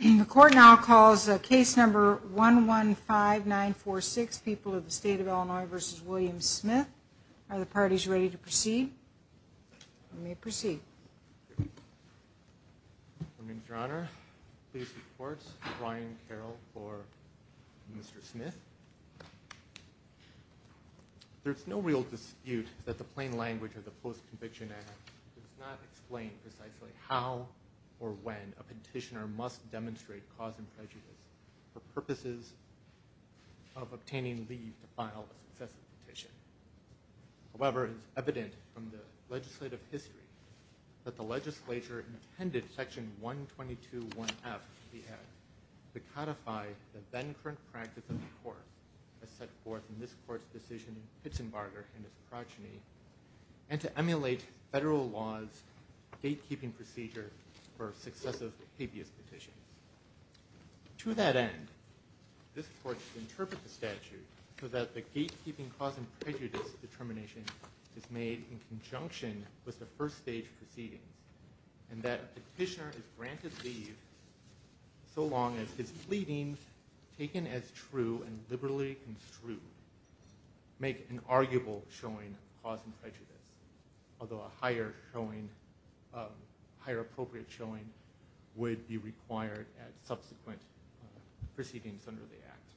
the court now calls a case number one one five nine four six people of the state of Illinois versus William Smith are the parties ready to proceed I may proceed there's no real dispute that the plain language of the post-conviction act does not explain precisely how or when a petitioner must demonstrate cause and prejudice for purposes of obtaining leave to file a petition however is evident from the legislative history that the legislature intended section 122 1f to codify the then current practice of the court as set forth in Pitzenbarger and his progeny and to emulate federal laws gatekeeping procedure for successive habeas petitions to that end this court interpret the statute so that the gatekeeping cause and prejudice determination is made in conjunction with the first stage proceedings and that petitioner is granted leave so long as his pleadings taken as true and liberally construed make an arguable showing cause and prejudice although a higher showing higher appropriate showing would be required at subsequent proceedings under the act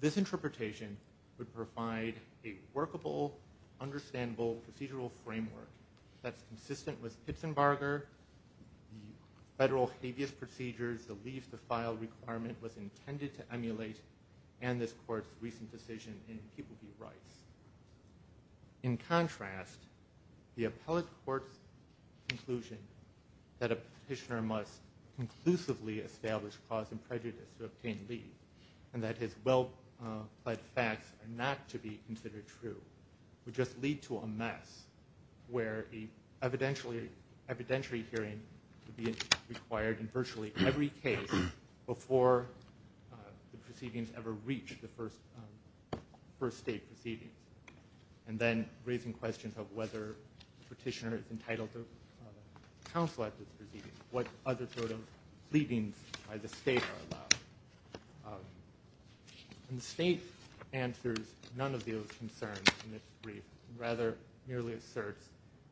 this interpretation would provide a workable understandable procedural framework that's consistent with Pitzenbarger federal habeas procedures the leaves the file requirement was intended to emulate and this court's recent decision in people be rights in contrast the appellate court's conclusion that a petitioner must conclusively establish cause and prejudice to obtain leave and that his well-plaid facts are not to be considered true would just lead to a mess where a evidentially evidentiary hearing to be required in virtually every case before the proceedings ever reached the first first state proceeding and then raising questions of whether petitioner is entitled to counsel at the proceedings what other sort of pleadings by the state are allowed and the state answers none of those concerns in this brief rather merely asserts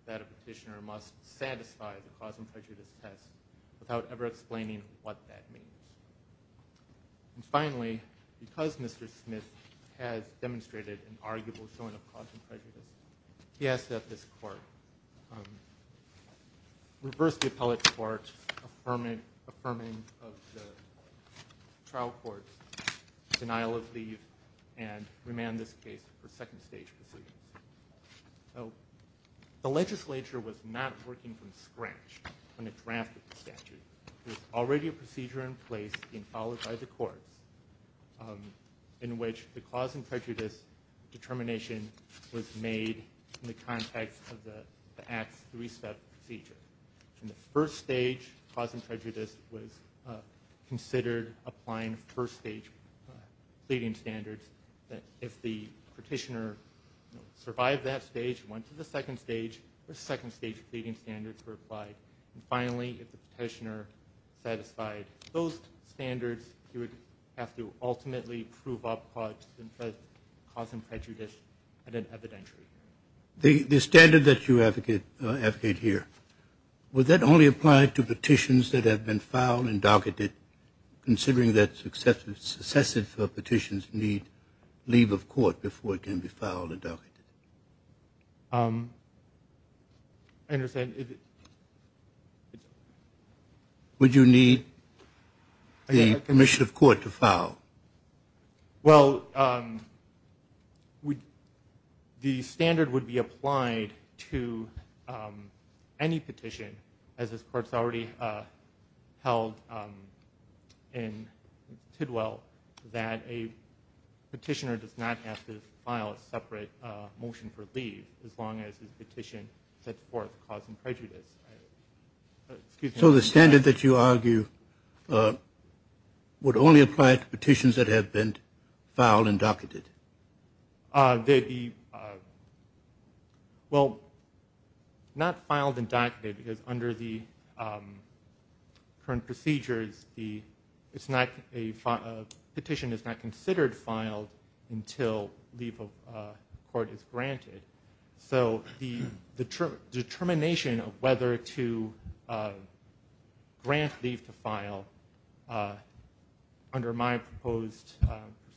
that a petitioner must satisfy the cause and prejudice test without ever explaining what that means and finally because mr. Smith has demonstrated an arguable showing of cause and prejudice he asked that this court reverse the appellate court's affirming of the trial court's denial of leave and remand this case for second stage proceedings so the legislature was not working from scratch on a draft statute there's already a procedure in place in followed by the courts in which the cause and prejudice determination was made in the context of the acts three-step procedure and the first stage cause and prejudice was considered applying first stage pleading standards that if the petitioner survived that stage went to the second stage or second stage pleading standards were applied and finally if the petitioner satisfied those standards you would have to ultimately prove up cause and prejudice at an evidentiary the standard that you advocate advocate here was that only applied to petitions that have been filed and docketed considering that successive successive petitions need leave of court before it can be filed I understand would you need the permission of court to file well we the standard would be applied to any petition as this courts already held in Tidwell that a petitioner does not have to file a separate motion for leave as long as his petition set forth cause and prejudice so the standard that you argue would only apply to petitions that have been filed and docketed they be well not a petition is not considered filed until leave of court is granted so the the determination of whether to grant leave to file under my proposed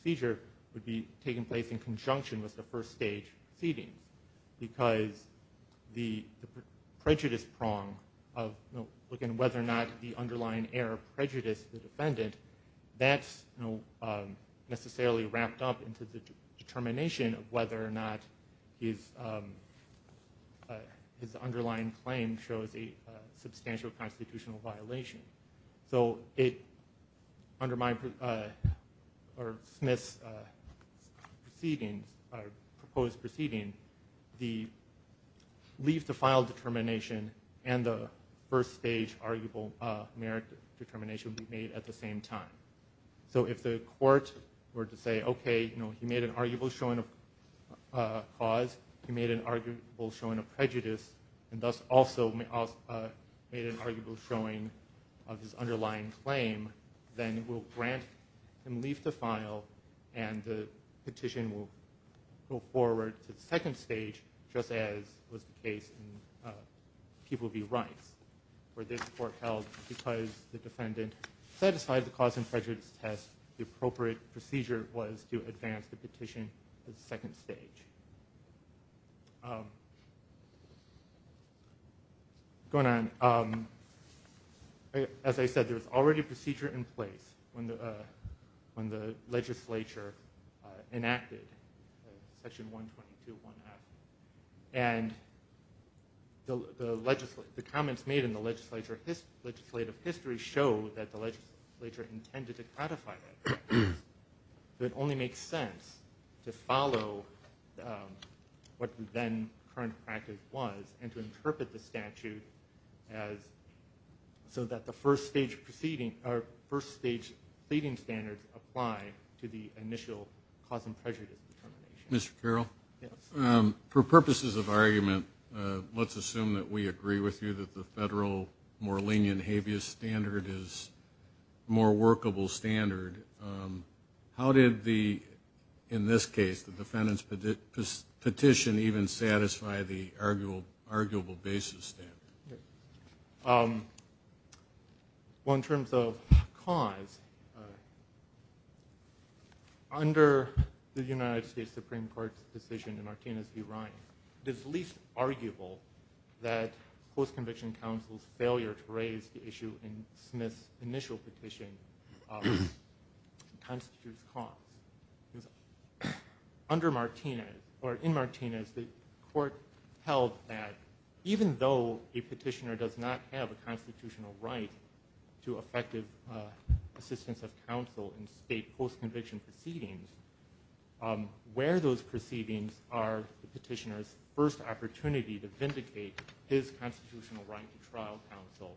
procedure would be taking place in conjunction with the first stage seating because the prejudice prong of looking whether or not the underlying error prejudice the defendant that's no necessarily wrapped up into the determination of whether or not is his underlying claim shows a substantial constitutional violation so it under my or Smith's proceedings are proposed proceeding the leave to file determination and the first stage merit determination be made at the same time so if the court were to say okay you know he made an arguable showing a cause he made an arguable showing a prejudice and thus also made an arguable showing of his underlying claim then we'll grant and leave the file and the petition will go forward to the second stage just as was the case in people be rights where this court held because the defendant satisfied the cause and prejudice test the appropriate procedure was to advance the petition the second stage going on as I said there was already a procedure in place when the when the legislature enacted section 122 and the legislature the comments made in the legislature this legislative history show that the legislature intended to codify that it only makes sense to follow what then current practice was and to interpret the statute as so that the first stage proceeding our first stage leading standards apply to the initial cause and prejudice mr. Carroll for purposes of argument let's assume that we agree with you that the federal more lenient habeas standard is more workable standard how did the in this case the defendant's petition even satisfy the arguable arguable basis one terms of cause under the United States Supreme Court's decision in our team is the right this least arguable that post-conviction counsel's failure to raise the issue in Smith's initial petition under Martinez or in a petitioner does not have a constitutional right to effective assistance of counsel in state post-conviction proceedings where those proceedings are petitioners first opportunity to vindicate his constitutional right to trial counsel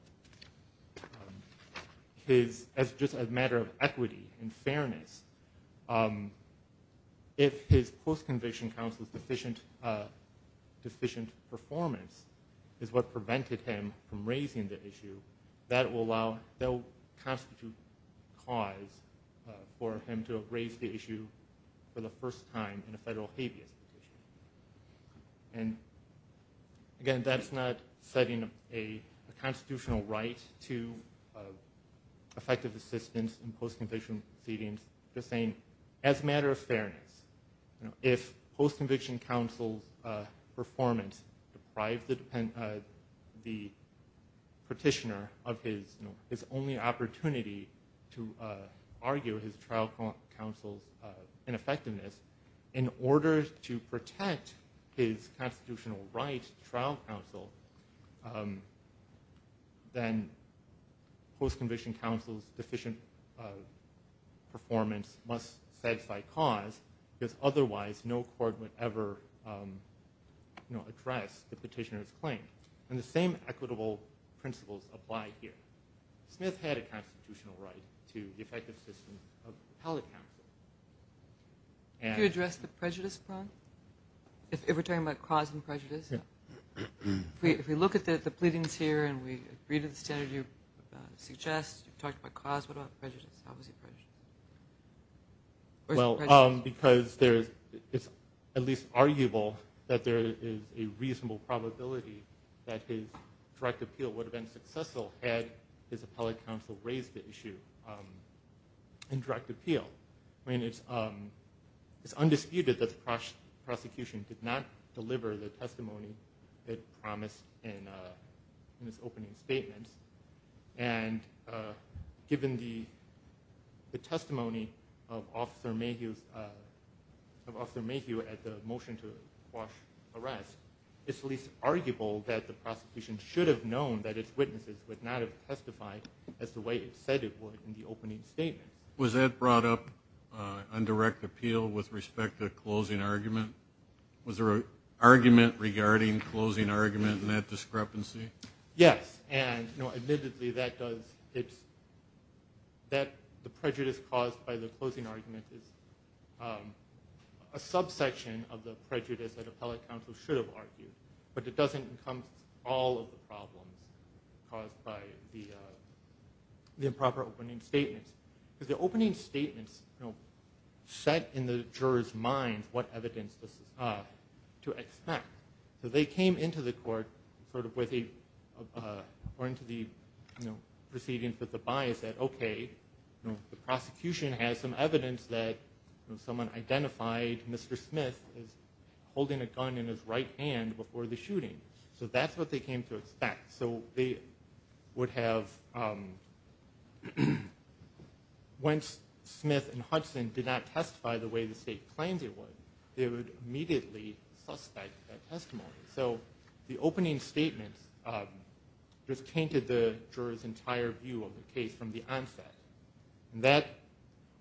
his as just a matter of equity and fairness if his post-conviction counsel's deficient deficient performance is what prevented him from raising the issue that will allow they'll constitute cause for him to raise the issue for the first time in a federal habeas and again that's not setting a constitutional right to effective assistance in post-conviction proceedings the same as a matter of the petitioner of his it's only opportunity to argue his trial counsel's ineffectiveness in order to protect his constitutional right trial counsel then post-conviction counsel's deficient performance must set by cause because otherwise no court would ever you know address the petitioner's claim and the same equitable principles apply here Smith had a constitutional right to the effective system of counsel. Can you address the prejudice front if we're talking about cause and prejudice if we look at the pleadings here and we read the standard you suggest you talked about cause what about prejudice well because there's it's at least arguable that there is a reasonable probability that his direct appeal would have been successful had his appellate counsel raised the issue and direct appeal I mean it's um it's undisputed that the prosecution did not deliver the testimony that promised in this opening statements and given the the testimony of officer Mayhew of officer Mayhew at the motion to quash arrest it's least arguable that the prosecution should have known that its witnesses would not have testified as the way it said it would in the opening statement. Was that brought up on direct appeal with respect to closing argument was there a argument regarding closing argument in that and you know admittedly that does it's that the prejudice caused by the closing argument is a subsection of the prejudice that appellate counsel should have argued but it doesn't come all of the problems caused by the improper opening statements because the opening statements you know set in the jurors minds what evidence this is to expect so they came into the court sort of with a or into the you know proceedings with the bias that okay you know the prosecution has some evidence that someone identified Mr. Smith is holding a gun in his right hand before the shooting so that's what they came to expect so they would have when Smith and Hudson did not testify the way the state claims it was it would immediately suspect a testimony so the opening statements just tainted the jurors entire view of the case from the onset that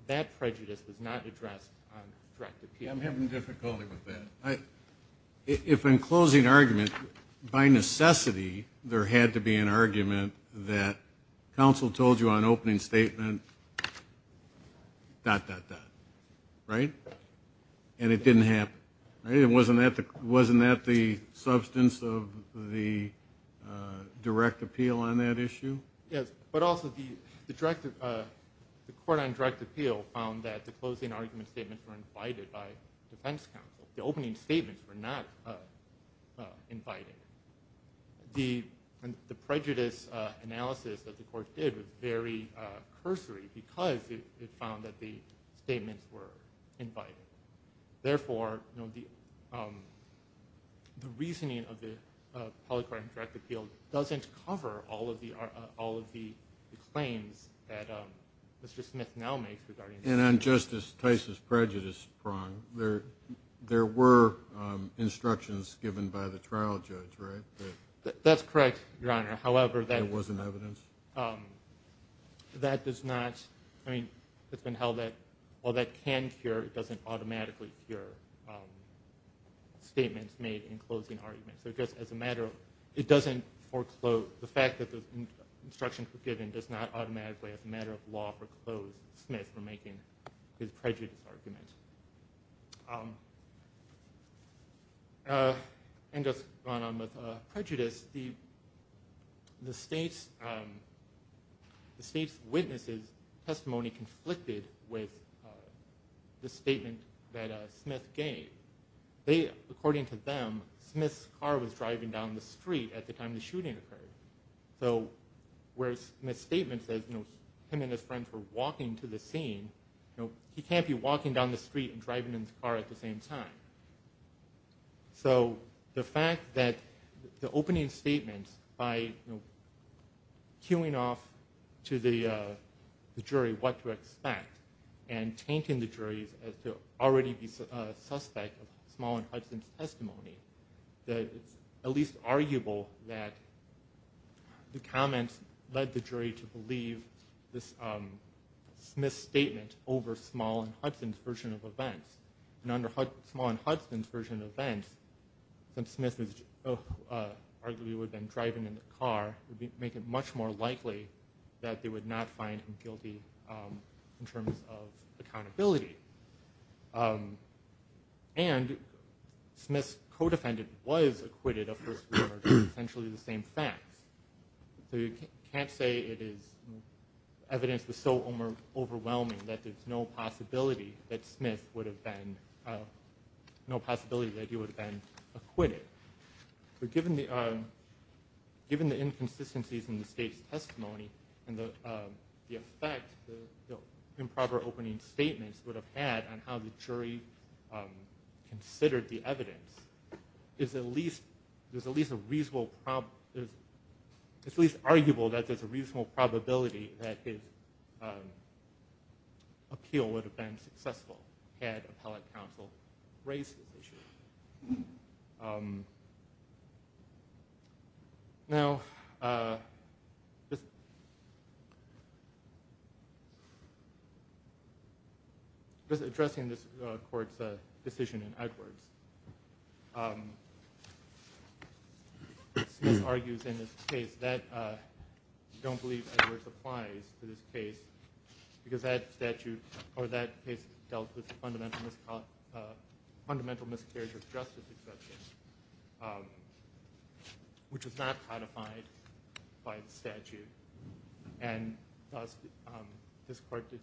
that prejudice does not address I'm having difficulty with that I if in closing argument by necessity there had to be an argument that counsel told you on opening statement dot dot dot right and it didn't happen it wasn't that wasn't that the substance of the direct appeal on that issue yes but also the the director of the court on direct appeal found that the closing argument statements were invited by defense counsel the opening statements were not invited the the prejudice analysis that the court did was very cursory because it found that the statements were invited therefore you know the the reasoning of the polygraph direct appeal doesn't cover all of the are all of the claims that mr. Smith now makes regarding and I'm justice Tice's that's correct your honor however that wasn't evidence that does not I mean it's been held that well that can cure it doesn't automatically cure statements made in closing arguments so just as a matter of it doesn't foreclose the fact that the instruction forgiven does not automatically as a matter of law for Smith for making his prejudice argument and just prejudice the the state's the state's witnesses testimony conflicted with the statement that Smith gave they according to them Smith's car was driving down the street at the time the shooting occurred so where's my statement says no him and his friends were walking to the scene you know he can't be walking down the street and driving in the car at the same time so the fact that the opening statements by queuing off to the jury what to expect and tainting the jury's as to already be suspect of small and Hudson's testimony that at least arguable that the comments led the jury to believe this Smith statement over small and Hudson's version of events and under hood small and Hudson's version of events that Smith is arguably would then driving in the car would make it much more likely that they would not find him guilty in terms of accountability and Smith's codefendant was acquitted of essentially the same facts so you can't say it is evidence was so over overwhelming that there's no possibility that Smith would have been no possibility that he would have been acquitted but given the given the inconsistencies in the state's testimony and the effect the improper opening statements would have had on how the the evidence is at least there's at least a reasonable problem it's at least arguable that there's a reasonable probability that his appeal would have been successful had appellate counsel raised the issue now just addressing this court's a decision in Edwards argues in this case that don't believe supplies to this case because that statute or that is dealt with fundamental fundamental miscarriage of justice exception which is not how to by statute and this part did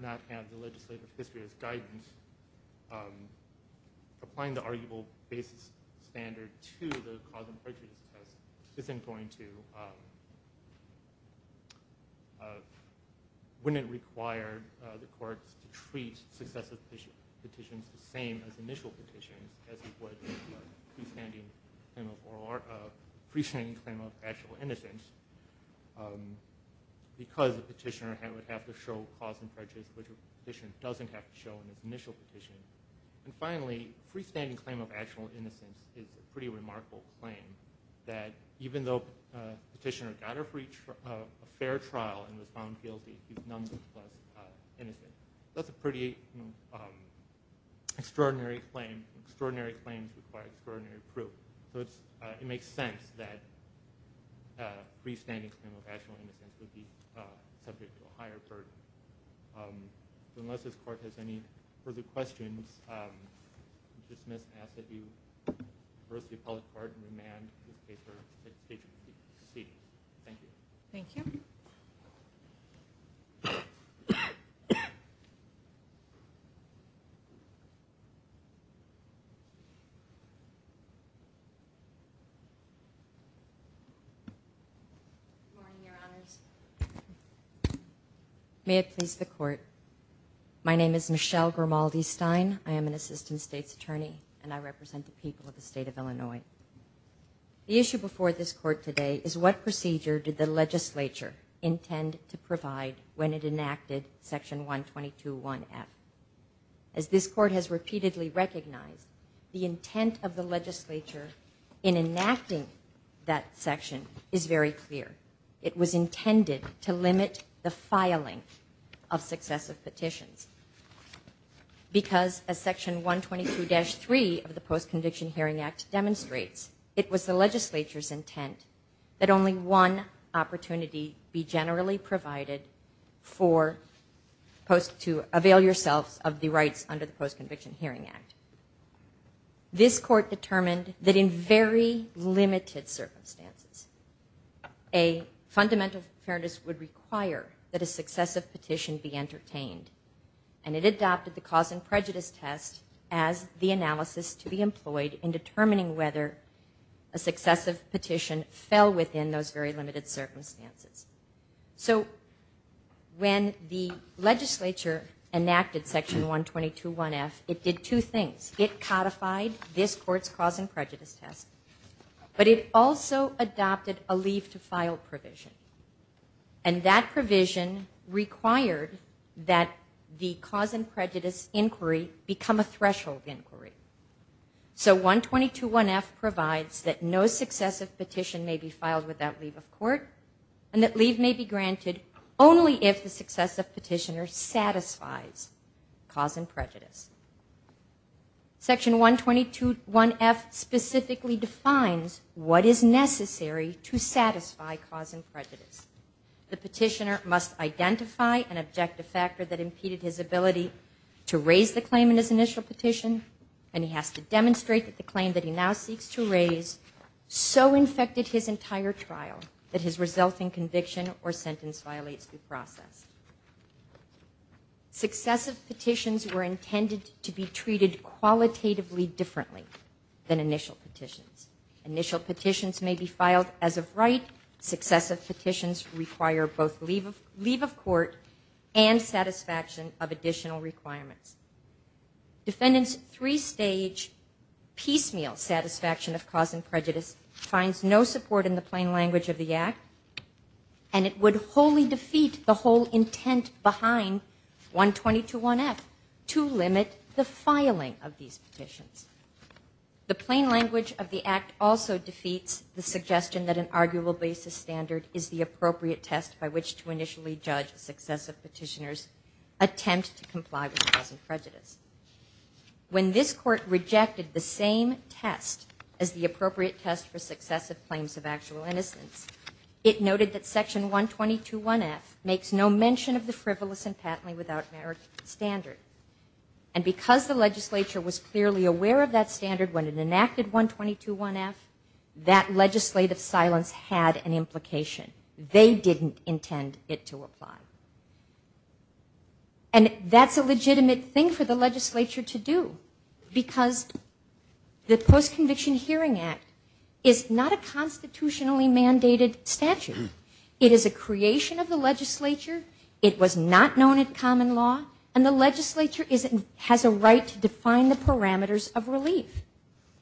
not have the legislative history as guidance applying the arguable basis standard to the cause of purchase isn't going to wouldn't require the courts to treat successive petitions the same as initial petitions as he would with a freestanding claim of actual innocence because the petitioner would have to show cause and purchase which a petitioner doesn't have to show in his initial petition and finally freestanding claim of actual innocence is a pretty remarkable claim that even though petitioner got a fair trial and extraordinary claims require extraordinary proof so it's it makes sense that freestanding claim of actual innocence would be subject to a higher burden unless this court has any further questions dismiss and ask that you reverse the appellate court and remand the paper that you see. Thank you. Thank you. May it please the court my name is Michelle Grimaldi Stein I am an assistant states attorney and I represent the people of the state of Illinois. The issue before this court today is what procedure did the legislature intend to provide when it enacted section 122.1f. As this court has repeatedly recognized the intent of the legislature in enacting that section is very clear it was intended to limit the filing of successive petitions because as section 122-3 of the Post-Conviction Hearing Act demonstrates it was the legislature's intent that only one opportunity be generally provided for post to avail yourselves of the rights under the Post-Conviction Hearing Act. This court determined that in very limited circumstances a fundamental fairness would require that a successive petition be entertained and it adopted the cause and prejudice test as the analysis to be employed in determining whether a successive petition fell within those very limited circumstances. So when the legislature enacted section 122.1f it did two things it codified this court's cause and prejudice test but it also adopted a leave to file provision and that provision required that the cause and prejudice inquiry become a threshold inquiry. So 122.1f provides that no leave may be granted only if the successive petitioner satisfies cause and prejudice. Section 122.1f specifically defines what is necessary to satisfy cause and prejudice. The petitioner must identify an objective factor that impeded his ability to raise the claim in his initial petition and he has to demonstrate that the claim that he now seeks to raise so infected his entire trial that his resulting conviction or sentence violates due process. Successive petitions were intended to be treated qualitatively differently than initial petitions. Initial petitions may be filed as of right, successive petitions require both leave of court and satisfaction of additional requirements. Defendants three stage piecemeal satisfaction of cause and prejudice finds no support in the plain language of the act and it would wholly defeat the whole intent behind 122.1f to limit the filing of these petitions. The plain language of the act also defeats the suggestion that an arguable basis standard is the appropriate test by which to initially judge successive petitioners attempt to comply with cause and prejudice. When this court rejected the same test as the appropriate test for successive claims of actual innocence, it noted that section 122.1f makes no mention of the frivolous and patently without merit standard. And because the legislature was clearly aware of that standard when it enacted 122.1f, that legislative silence had an implication. They didn't intend it to apply. And that's a legitimate thing for the legislature to do. Because the Post-Conviction Hearing Act is not a constitutionally mandated statute. It is a creation of the legislature. It was not known at common law. And the legislature has a right to define the parameters of relief.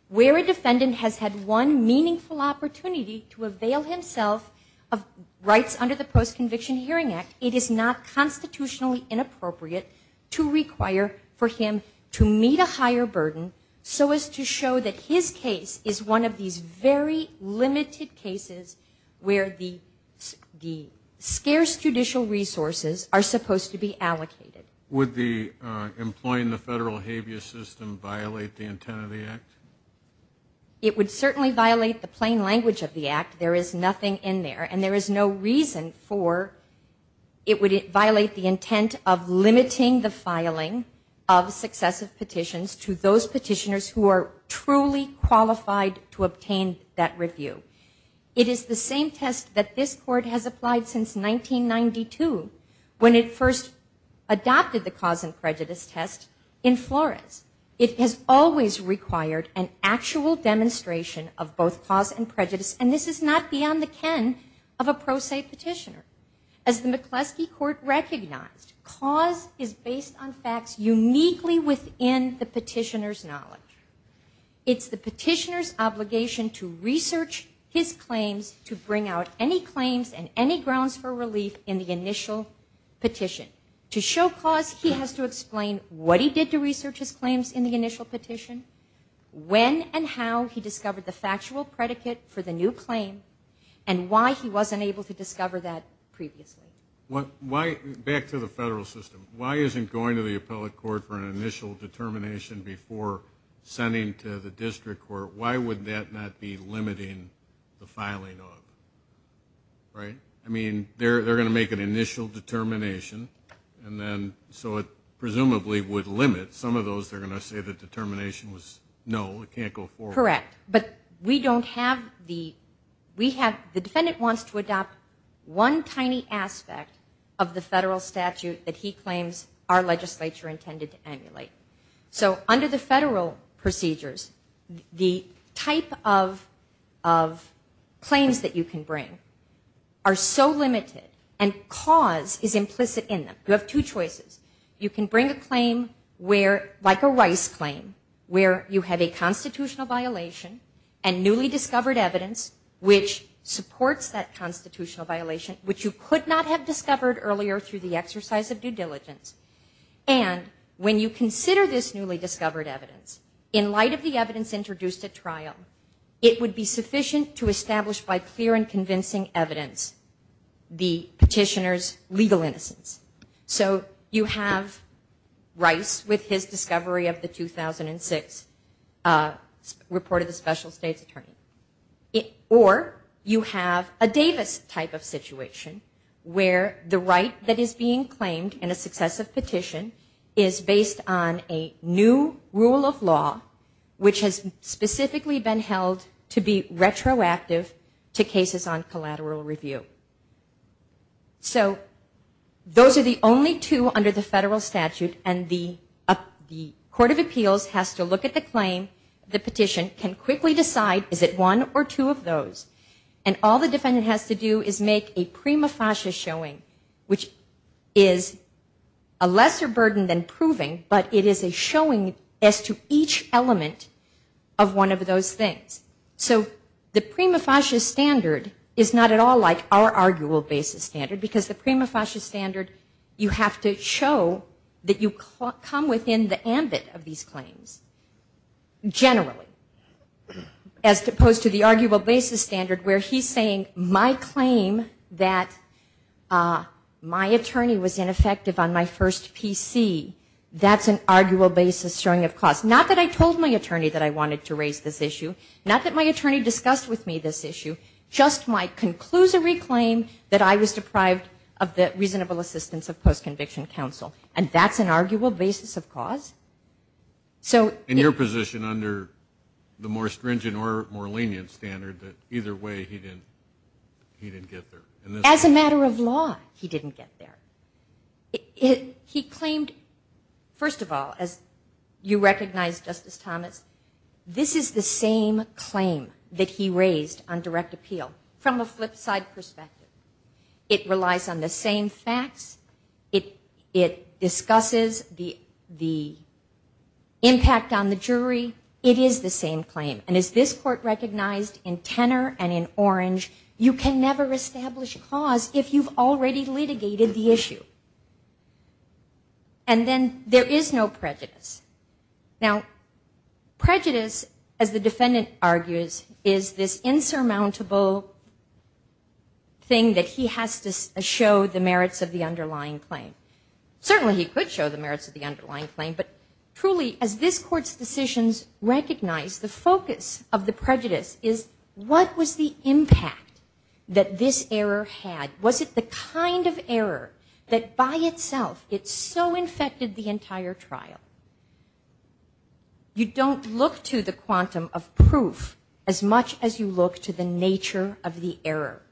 Where a defendant has had one meaningful opportunity to avail himself of rights under the Post-Conviction Hearing Act, it is not constitutionally inappropriate to require for him to meet a higher burden so as to show that his case is one of these very limited cases where the scarce judicial resources are supposed to be allocated. Would the employing the federal habeas system violate the intent of the act? It would certainly violate the plain language of the act. There is nothing in there. And there is no reason for it would violate the intent of limiting the filing of successive petitions to those petitioners who are truly qualified to obtain that review. It is the same test that this court has applied since 1992 when it first adopted the cause and prejudice test in Flores. It has always required an actual demonstration of both cause and prejudice. And this is not beyond the ken of a pro se petitioner. As the McCleskey Court recognized, cause is based on facts uniquely within the petitioner's knowledge. It's the petitioner's obligation to research his claims to bring out any claims and any grounds for relief in the initial petition. To show cause, he has to explain what he did to claim and why he wasn't able to discover that previously. Back to the federal system. Why isn't going to the appellate court for an initial determination before sending to the district court, why would that not be limiting the filing of? Right? I mean, they're going to make an initial determination and then so it presumably would limit. Some of those, they're going to say the determination was no, it can't go forward. Correct. But we don't have the, we have, the defendant wants to adopt one tiny aspect of the federal statute that he claims our legislature intended to emulate. So under the federal procedures, the type of claims that you can bring are so limited and cause is implicit in them. You have two choices. You can bring a claim where, like a Rice claim, where you have a constitutional violation and newly discovered evidence, which supports that constitutional violation, which you could not have discovered earlier through the exercise of due diligence. And when you consider this newly discovered evidence, in light of the evidence introduced at Rice with his discovery of the 2006 report of the special state's attorney. Or you have a Davis type of situation where the right that is being claimed in a successive petition is based on a new rule of law, which has specifically been held to be retroactive to cases on collateral review. So those are the only two under the federal statute and the Court of Appeals has to look at the claim, the petition, can quickly decide is it one or two of those. And all the defendant has to do is make a prima facie showing, which is a lesser burden than proving, but it is a showing as to each element of one of those things. So the arguable basis standard, because the prima facie standard, you have to show that you come within the ambit of these claims generally, as opposed to the arguable basis standard where he's saying my claim that my attorney was ineffective on my first PC, that's an arguable basis showing of cause. Not that I told my attorney that I wanted to raise this issue. Not that my attorney discussed with me this issue. Just my conclusory claim that I was deprived of the reasonable assistance of post-conviction counsel. And that's an arguable basis of cause. So... In your position under the more stringent or more lenient standard that either way he didn't get there. As a matter of law, he didn't get there. He claimed, first of all, as you recognize, Justice Thomas, this is the same claim that he raised on direct appeal from a flip side perspective. It relies on the same facts. It discusses the impact on the jury. It is the same claim. And as this court recognized in Tenor and in Orange, you can never establish cause if you've already litigated the issue. And then there is no prejudice. Now, prejudice, as the defendant argues, is this insurmountable thing that he has to show the merits of the underlying claim. Certainly he could show the merits of the underlying claim, but truly as this decisions recognize, the focus of the prejudice is what was the impact that this error had? Was it the kind of error that by itself it so infected the entire trial? You don't look to the quantum of proof as much as you look to the nature of the error.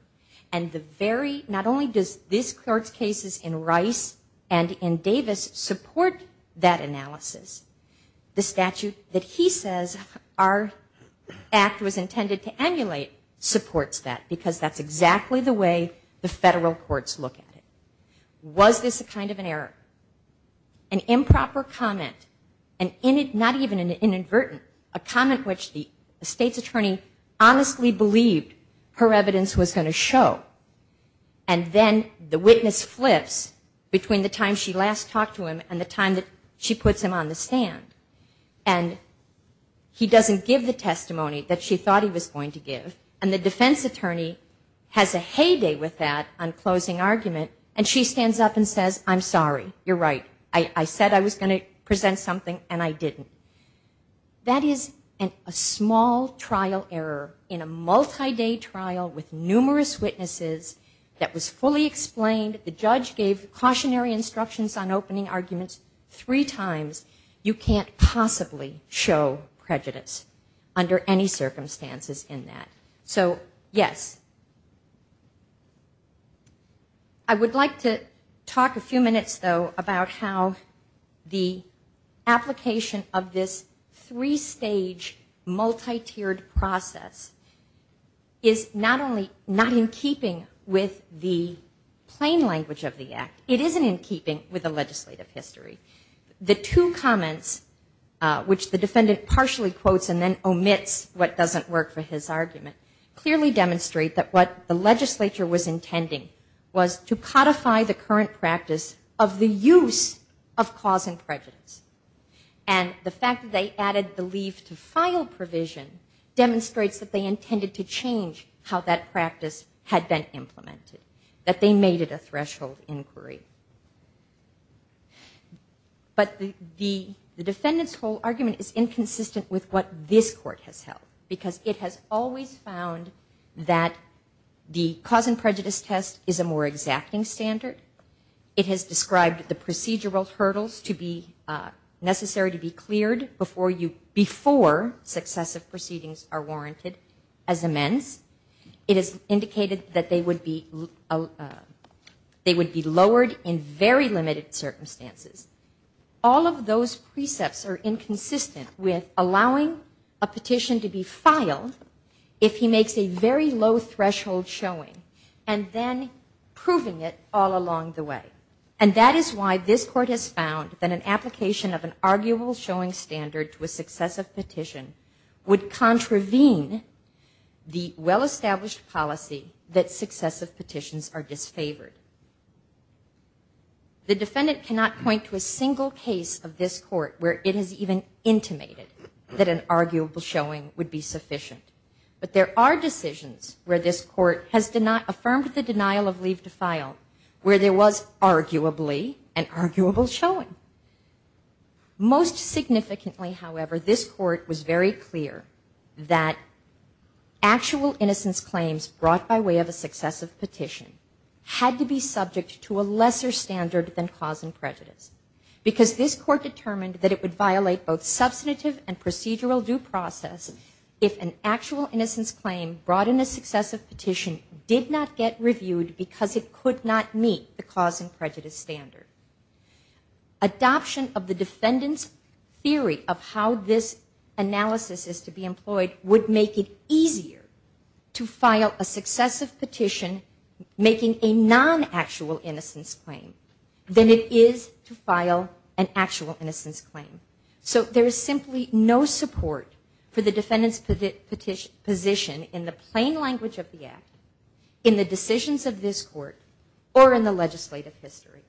And the very, not only does this court's cases in Rice and in Davis support that analysis, the statute that he says our act was intended to emulate supports that because that's exactly the way the federal courts look at it. Was this a kind of an error? An improper comment, not even an inadvertent, a comment which the state's attorney honestly believed her evidence was going to show, and then the witness flips between the time she last talked to him and the time that she puts him on the stand. And he doesn't give the testimony that she thought he was going to give. And the defense attorney has a heyday with that on closing argument, and she stands up and says, I'm sorry. You're right. I said I was going to present something, and I didn't. That is a small trial error in a multi-day trial with numerous witnesses that was fully explained. The judge gave cautionary instructions on opening arguments three times. You can't possibly show prejudice under any circumstances in that. So, yes. I would like to talk a few minutes, though, about how the application of this three-stage, multi-tiered process is not only not in keeping with the plain language of the act, it isn't in keeping with the legislative history. The two comments, which the defendant partially quotes and then omits what doesn't work for his argument, clearly demonstrate that what the legislature was intending was to codify the current practice of the use of cause and prejudice. And the fact that they added the leave to file provision demonstrates that they intended to change how that practice had been implemented, that they made it a threshold inquiry. But the defendant's whole argument is inconsistent with what this Court has held, because it has always found that the cause and prejudice test is a more exacting standard. It has indicated that they would be lowered in very limited circumstances. All of those precepts are inconsistent with allowing a petition to be filed if he makes a very low successive petition would contravene the well-established policy that successive petitions are disfavored. The defendant cannot point to a single case of this court where it is even intimated that an arguable showing would be sufficient. But there are decisions where this Court has affirmed the denial of leave to file where there was arguably an arguable showing. Most significantly, however, this Court was very clear that actual innocence claims brought by way of a successive petition had to be subject to a lesser standard than cause and prejudice, because this Court determined that it would violate both substantive and procedural due process if an actual innocence claim brought in a successive petition did not get reviewed because it could not meet the cause and prejudice standard. Adoption of the defendant's theory of how this analysis is to be employed would make it easier to file a successive petition making a non-actual innocence claim than it is to file an actual innocence claim. So there is simply no support for the defendant's position in the plain language of the Act, in the decisions of this Court, or in the legislative history.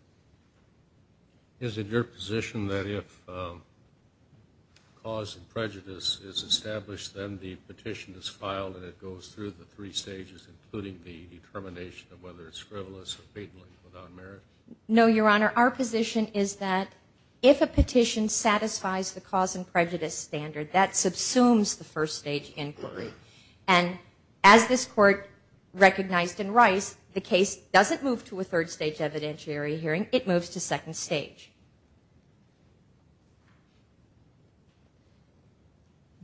Is it your position that if cause and prejudice is established, then the petition is filed and it goes through the three stages, including the determination of whether it's the first stage inquiry. And as this Court recognized in Rice, the case doesn't move to a third stage evidentiary hearing, it moves to second stage.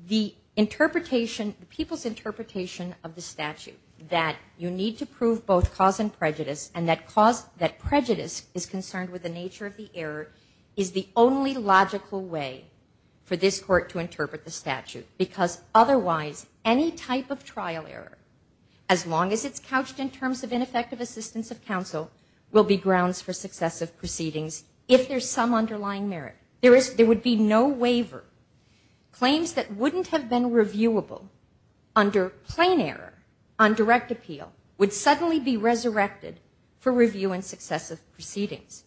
The interpretation, the people's interpretation of the statute that you need to prove both cause and prejudice and that cause, that prejudice is concerned with the nature of the error is the only logical way for this Court to interpret the statute because otherwise any type of trial error, as long as it's couched in terms of ineffective assistance of counsel, will be grounds for successive proceedings if there's some underlying merit. There would be no waiver. Claims that wouldn't have been reviewable under plain error on direct appeal would suddenly be resurrected for review and successive proceedings.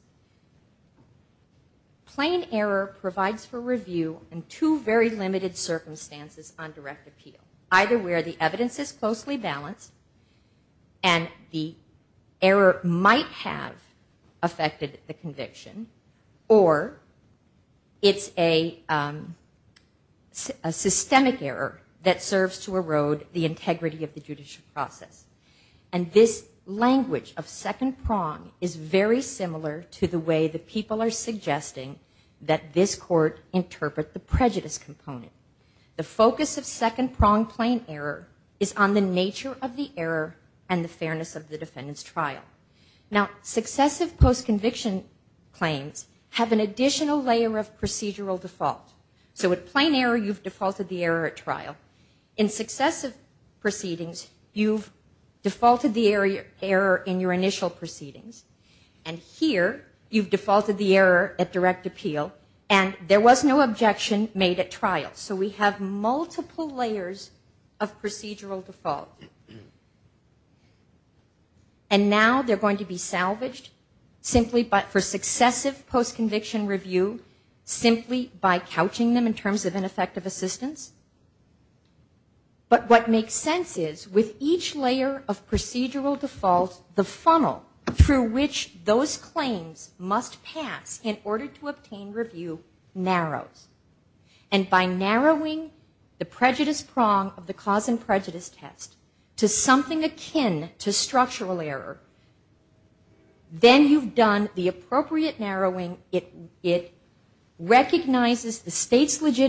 Plain error provides for review in two very limited circumstances on direct appeal. Either where the evidence is closely balanced and the error might have affected the conviction or it's a systemic error that serves to erode the integrity of the judicial process. And this language of second prong is very similar to the way the people are suggesting that this Court interpret the prejudice component. The focus of second prong plain error is on the nature of the error and the fairness of the defendant's trial. Now successive postconviction claims have an additional layer of procedural default. In the first two proceedings you've defaulted the error in your initial proceedings and here you've defaulted the error at direct appeal and there was no objection made at trial. So we have multiple layers of procedural default. And now they're going to be salvaged simply for successive postconviction review simply by narrowing the prejudice prong of the cause and prejudice test to something akin to structural error. Then you've done the appropriate narrowing. It recognizes the state's statute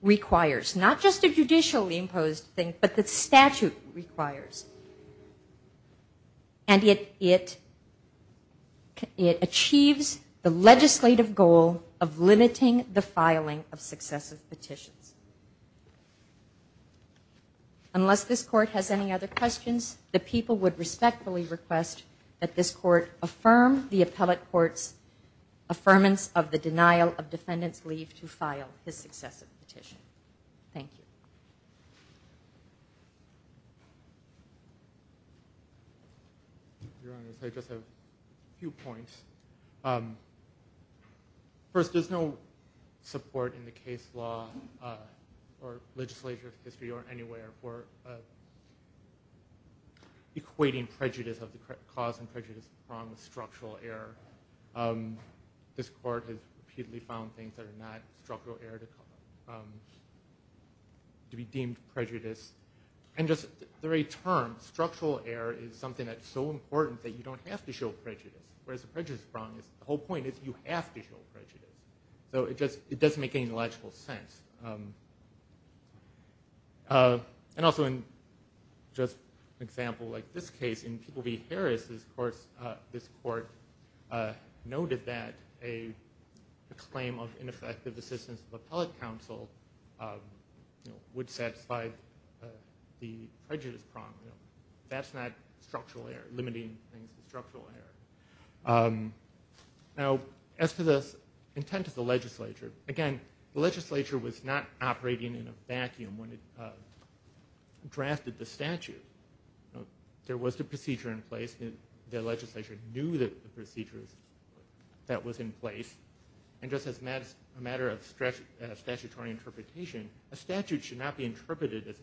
requires, not just a judicially imposed thing, but the statute requires. And it achieves the legislative goal of limiting the filing of successive petitions. Unless this Court has any other questions, the people would respectfully request that this Court affirm the appellate court's affirmance of the denial of the successive petition. Thank you. Your Honor, I just have a few points. First, there's no support in the case law or legislature's history or anywhere for equating prejudice of the cause and prejudice prong with structural error. This Court has repeatedly found things that are not structural error to be deemed prejudice. And just the very term, structural error is something that's so important that you don't have to show prejudice, whereas the prejudice prong, the whole point is you have to show prejudice. So it just doesn't make any logical sense. And also in just an example like this case, in People v. Harris' course, there's no support for this Court noted that a claim of ineffective assistance of appellate counsel would satisfy the prejudice prong. That's not limiting things to structural error. Now, as to the intent of the legislature, again, the legislature was not operating in a vacuum when it drafted the statute. There was the procedure in place. The legislature knew the procedures that was in place. And just as a matter of statutory interpretation, a statute should not be interpreted as,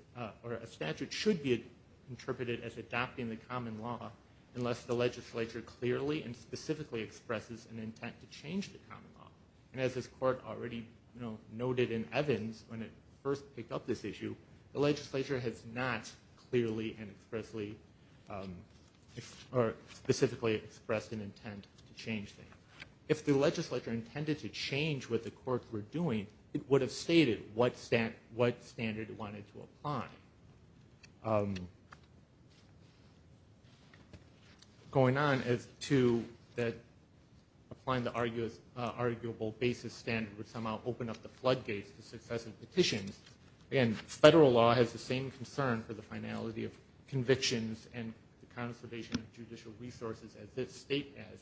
or a statute should be interpreted as adopting the common law unless the legislature clearly and specifically expresses an intent to change the common law. And as this Court already noted in Evans when it first picked up this issue, the legislature has not clearly adopted the common law. It has not clearly and expressly, or specifically expressed an intent to change the law. If the legislature intended to change what the courts were doing, it would have stated what standard it wanted to apply. Going on as to that applying the arguable basis standard would somehow open up the convictions and the conservation of judicial resources as this state has.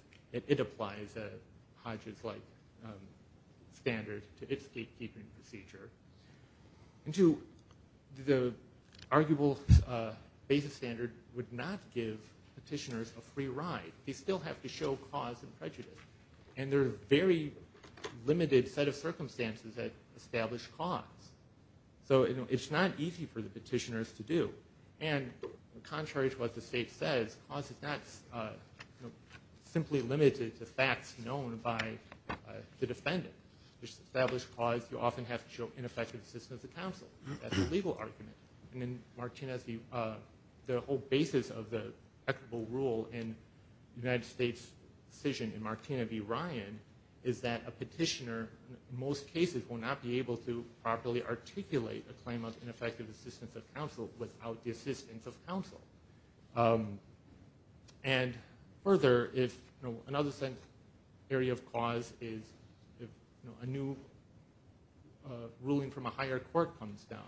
It applies Hodges-like standard to its gatekeeping procedure. And to the arguable basis standard would not give petitioners a free ride. They still have to show cause and prejudice. And there are very limited set of rules. So contrary to what the state says, cause is not simply limited to facts known by the defendant. To establish cause, you often have to show ineffective assistance of counsel. That's a legal argument. And then the whole basis of the equitable rule in the United States' decision in Martina v. Ryan is that a petitioner in most cases will not be able to properly articulate a claim of ineffective assistance of counsel without the exception of the defendant. And further, if another area of cause is a new ruling from a higher court comes down,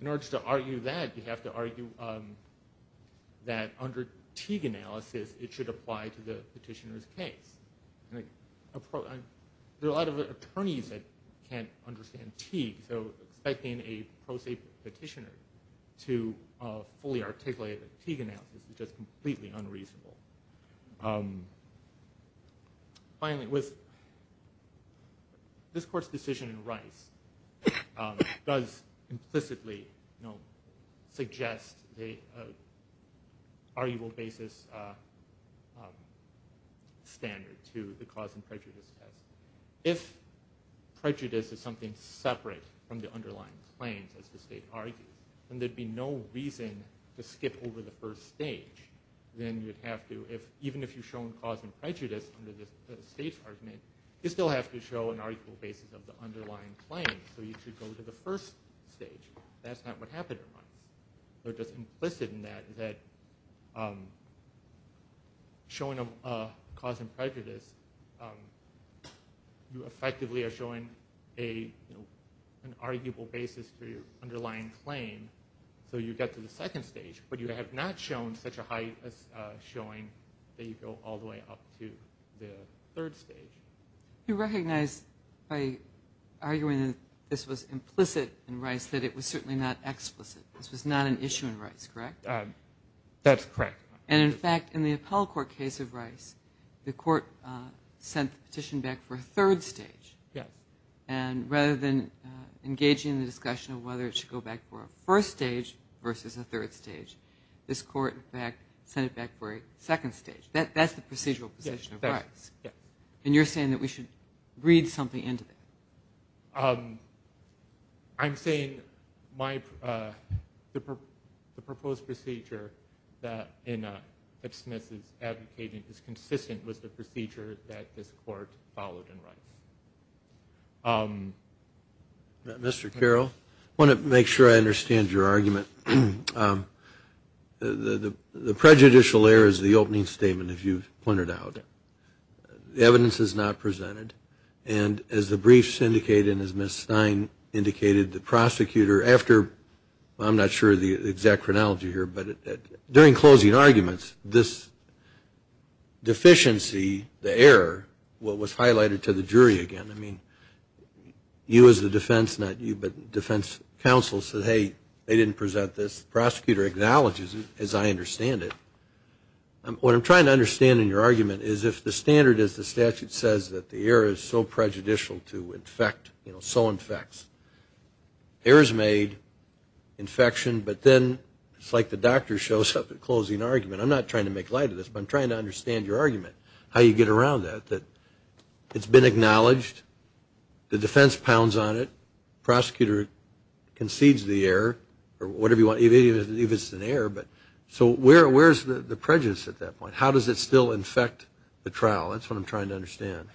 in order to argue that, you have to argue that under Teague analysis, it should apply to the petitioner's case. There are a lot of attorneys that can't understand Teague. So expecting a pro se petitioner to fully articulate a Teague analysis is just completely unreasonable. Finally, this court's decision in Rice does implicitly suggest the arguable basis standard to the cause and prejudice test. If prejudice is something separate to the underlying claims as the state argues, then there would be no reason to skip over the first stage. Even if you've shown cause and prejudice under the state's argument, you still have to show an arguable basis of the underlying claims. So you should go to the first stage. That's not what happened in Rice. So just implicit in that is that showing a cause and prejudice, you effectively are showing an arguable basis for your underlying claim. So you get to the second stage. But you have not shown such a high showing that you go all the way up to the third stage. You recognize by arguing that this was implicit in Rice that it was certainly not explicit. This was not an issue in Rice, correct? That's correct. And in fact, in the appellate court case of Rice, the court sent the petition back for a third stage. And rather than engaging in the discussion of whether it should go back for a first stage versus a third stage, this court in fact sent it back for a second stage. That's the procedural position of Rice. And you're saying that we should read something into that? I'm saying the proposed procedure that Smith is advocating is consistent with the procedure that this court followed in Rice. Mr. Carroll, I want to make sure I understand your argument. The prejudicial error is the opening statement, if you've pointed out. The evidence is not presented. And as the briefs indicate and as Ms. Stein indicated, the prosecutor, after, I'm not sure of the exact chronology here, but during closing arguments, this deficiency, the error, was highlighted to the jury again. I mean, this is not the case. It's not the case. It's not the case. I mean, you as the defense, not you, but defense counsel said, hey, they didn't present this. The prosecutor acknowledges it, as I understand it. What I'm trying to understand in your argument is if the standard is the statute says that the error is so prejudicial to infect, you know, so infects. Error is made, infection, but then it's like the doctor shows up at closing argument. I'm not trying to make light of this, but I'm trying to understand your argument. The defense pounds on it. Prosecutor concedes the error or whatever you want, even if it's an error. So where's the prejudice at that point? How does it still infect the trial? That's what I'm trying to understand.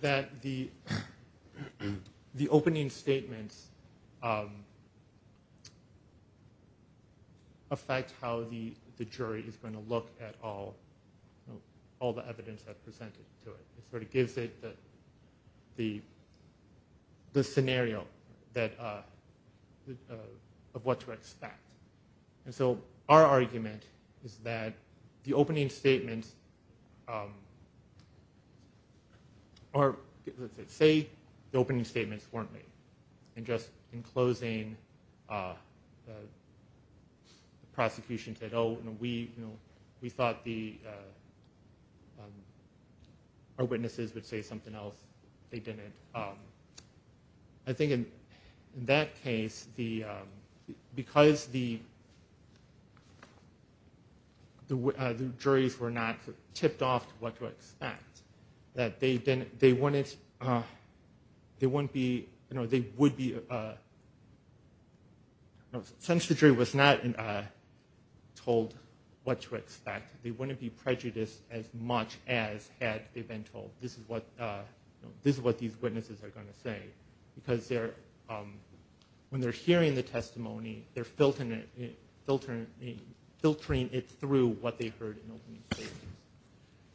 That the opening statements affect how the jury is going to look at all the evidence that's presented to it. It sort of gives it the scenario of what to expect. And so our argument is that the opening statements are, let's say, the opening statements weren't made. And just in closing, the prosecution said, oh, we thought our witnesses would say something else. They didn't. So that's the argument. I think in that case, because the juries were not tipped off to what to expect, that they wouldn't be, you know, they would be, since the jury was not told what to expect, they wouldn't be prejudiced as much as had they been told this is what these witnesses are saying. Because when they're hearing the testimony, they're filtering it through what they heard in the opening statements.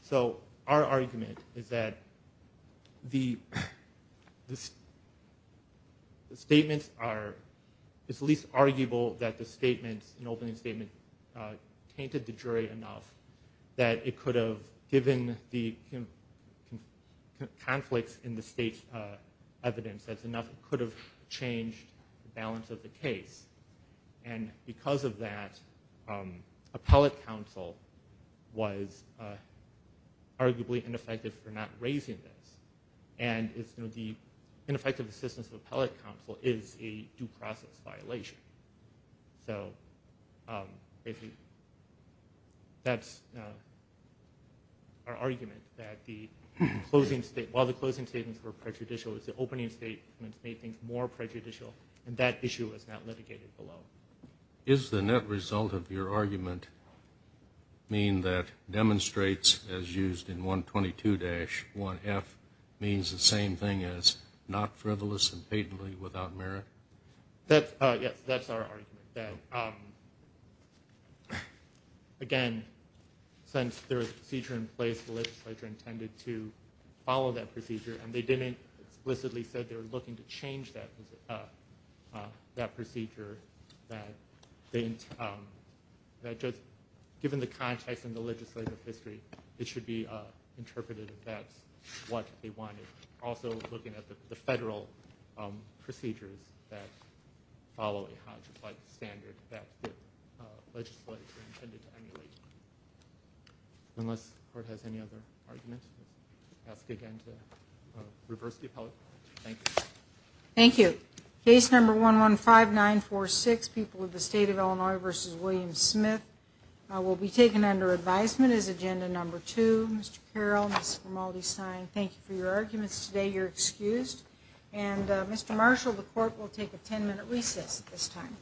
So our argument is that the statements are, it's at least arguable that the statements, the opening statement, tainted the jury enough that it could have changed the balance of the case. And because of that, appellate counsel was arguably ineffective for not raising this. And the ineffective assistance of appellate counsel is a due process violation. So that's, you know, that's our argument. That the closing statement, while the closing statements were prejudicial, the opening statements made things more prejudicial. And that issue is not litigated below. Is the net result of your argument mean that demonstrates, as used in 122-1F, means the same thing as not frivolous and patently without merit? That's, yes, that's our argument. That, again, since there was a procedure in place, the jury was not tipped off to what to expect. And that's the way the legislature intended to follow that procedure. And they didn't explicitly say they were looking to change that procedure. That just given the context and the legislative history, it should be interpreted that that's what they wanted. Also looking at the federal procedures that follow a Hodge-like standard that the legislature intended to emulate. Unless the court has any other arguments. I'll ask again to reverse the appellate court. Thank you. Thank you. Case number 115946, People of the State of Illinois v. William Smith, will be taken under advisement as agenda number two. Mr. Carroll, Ms. Formaldi-Stein, thank you for your arguments today. You're excused. And Mr. Marshall, the court will take a 10-minute recess at this time.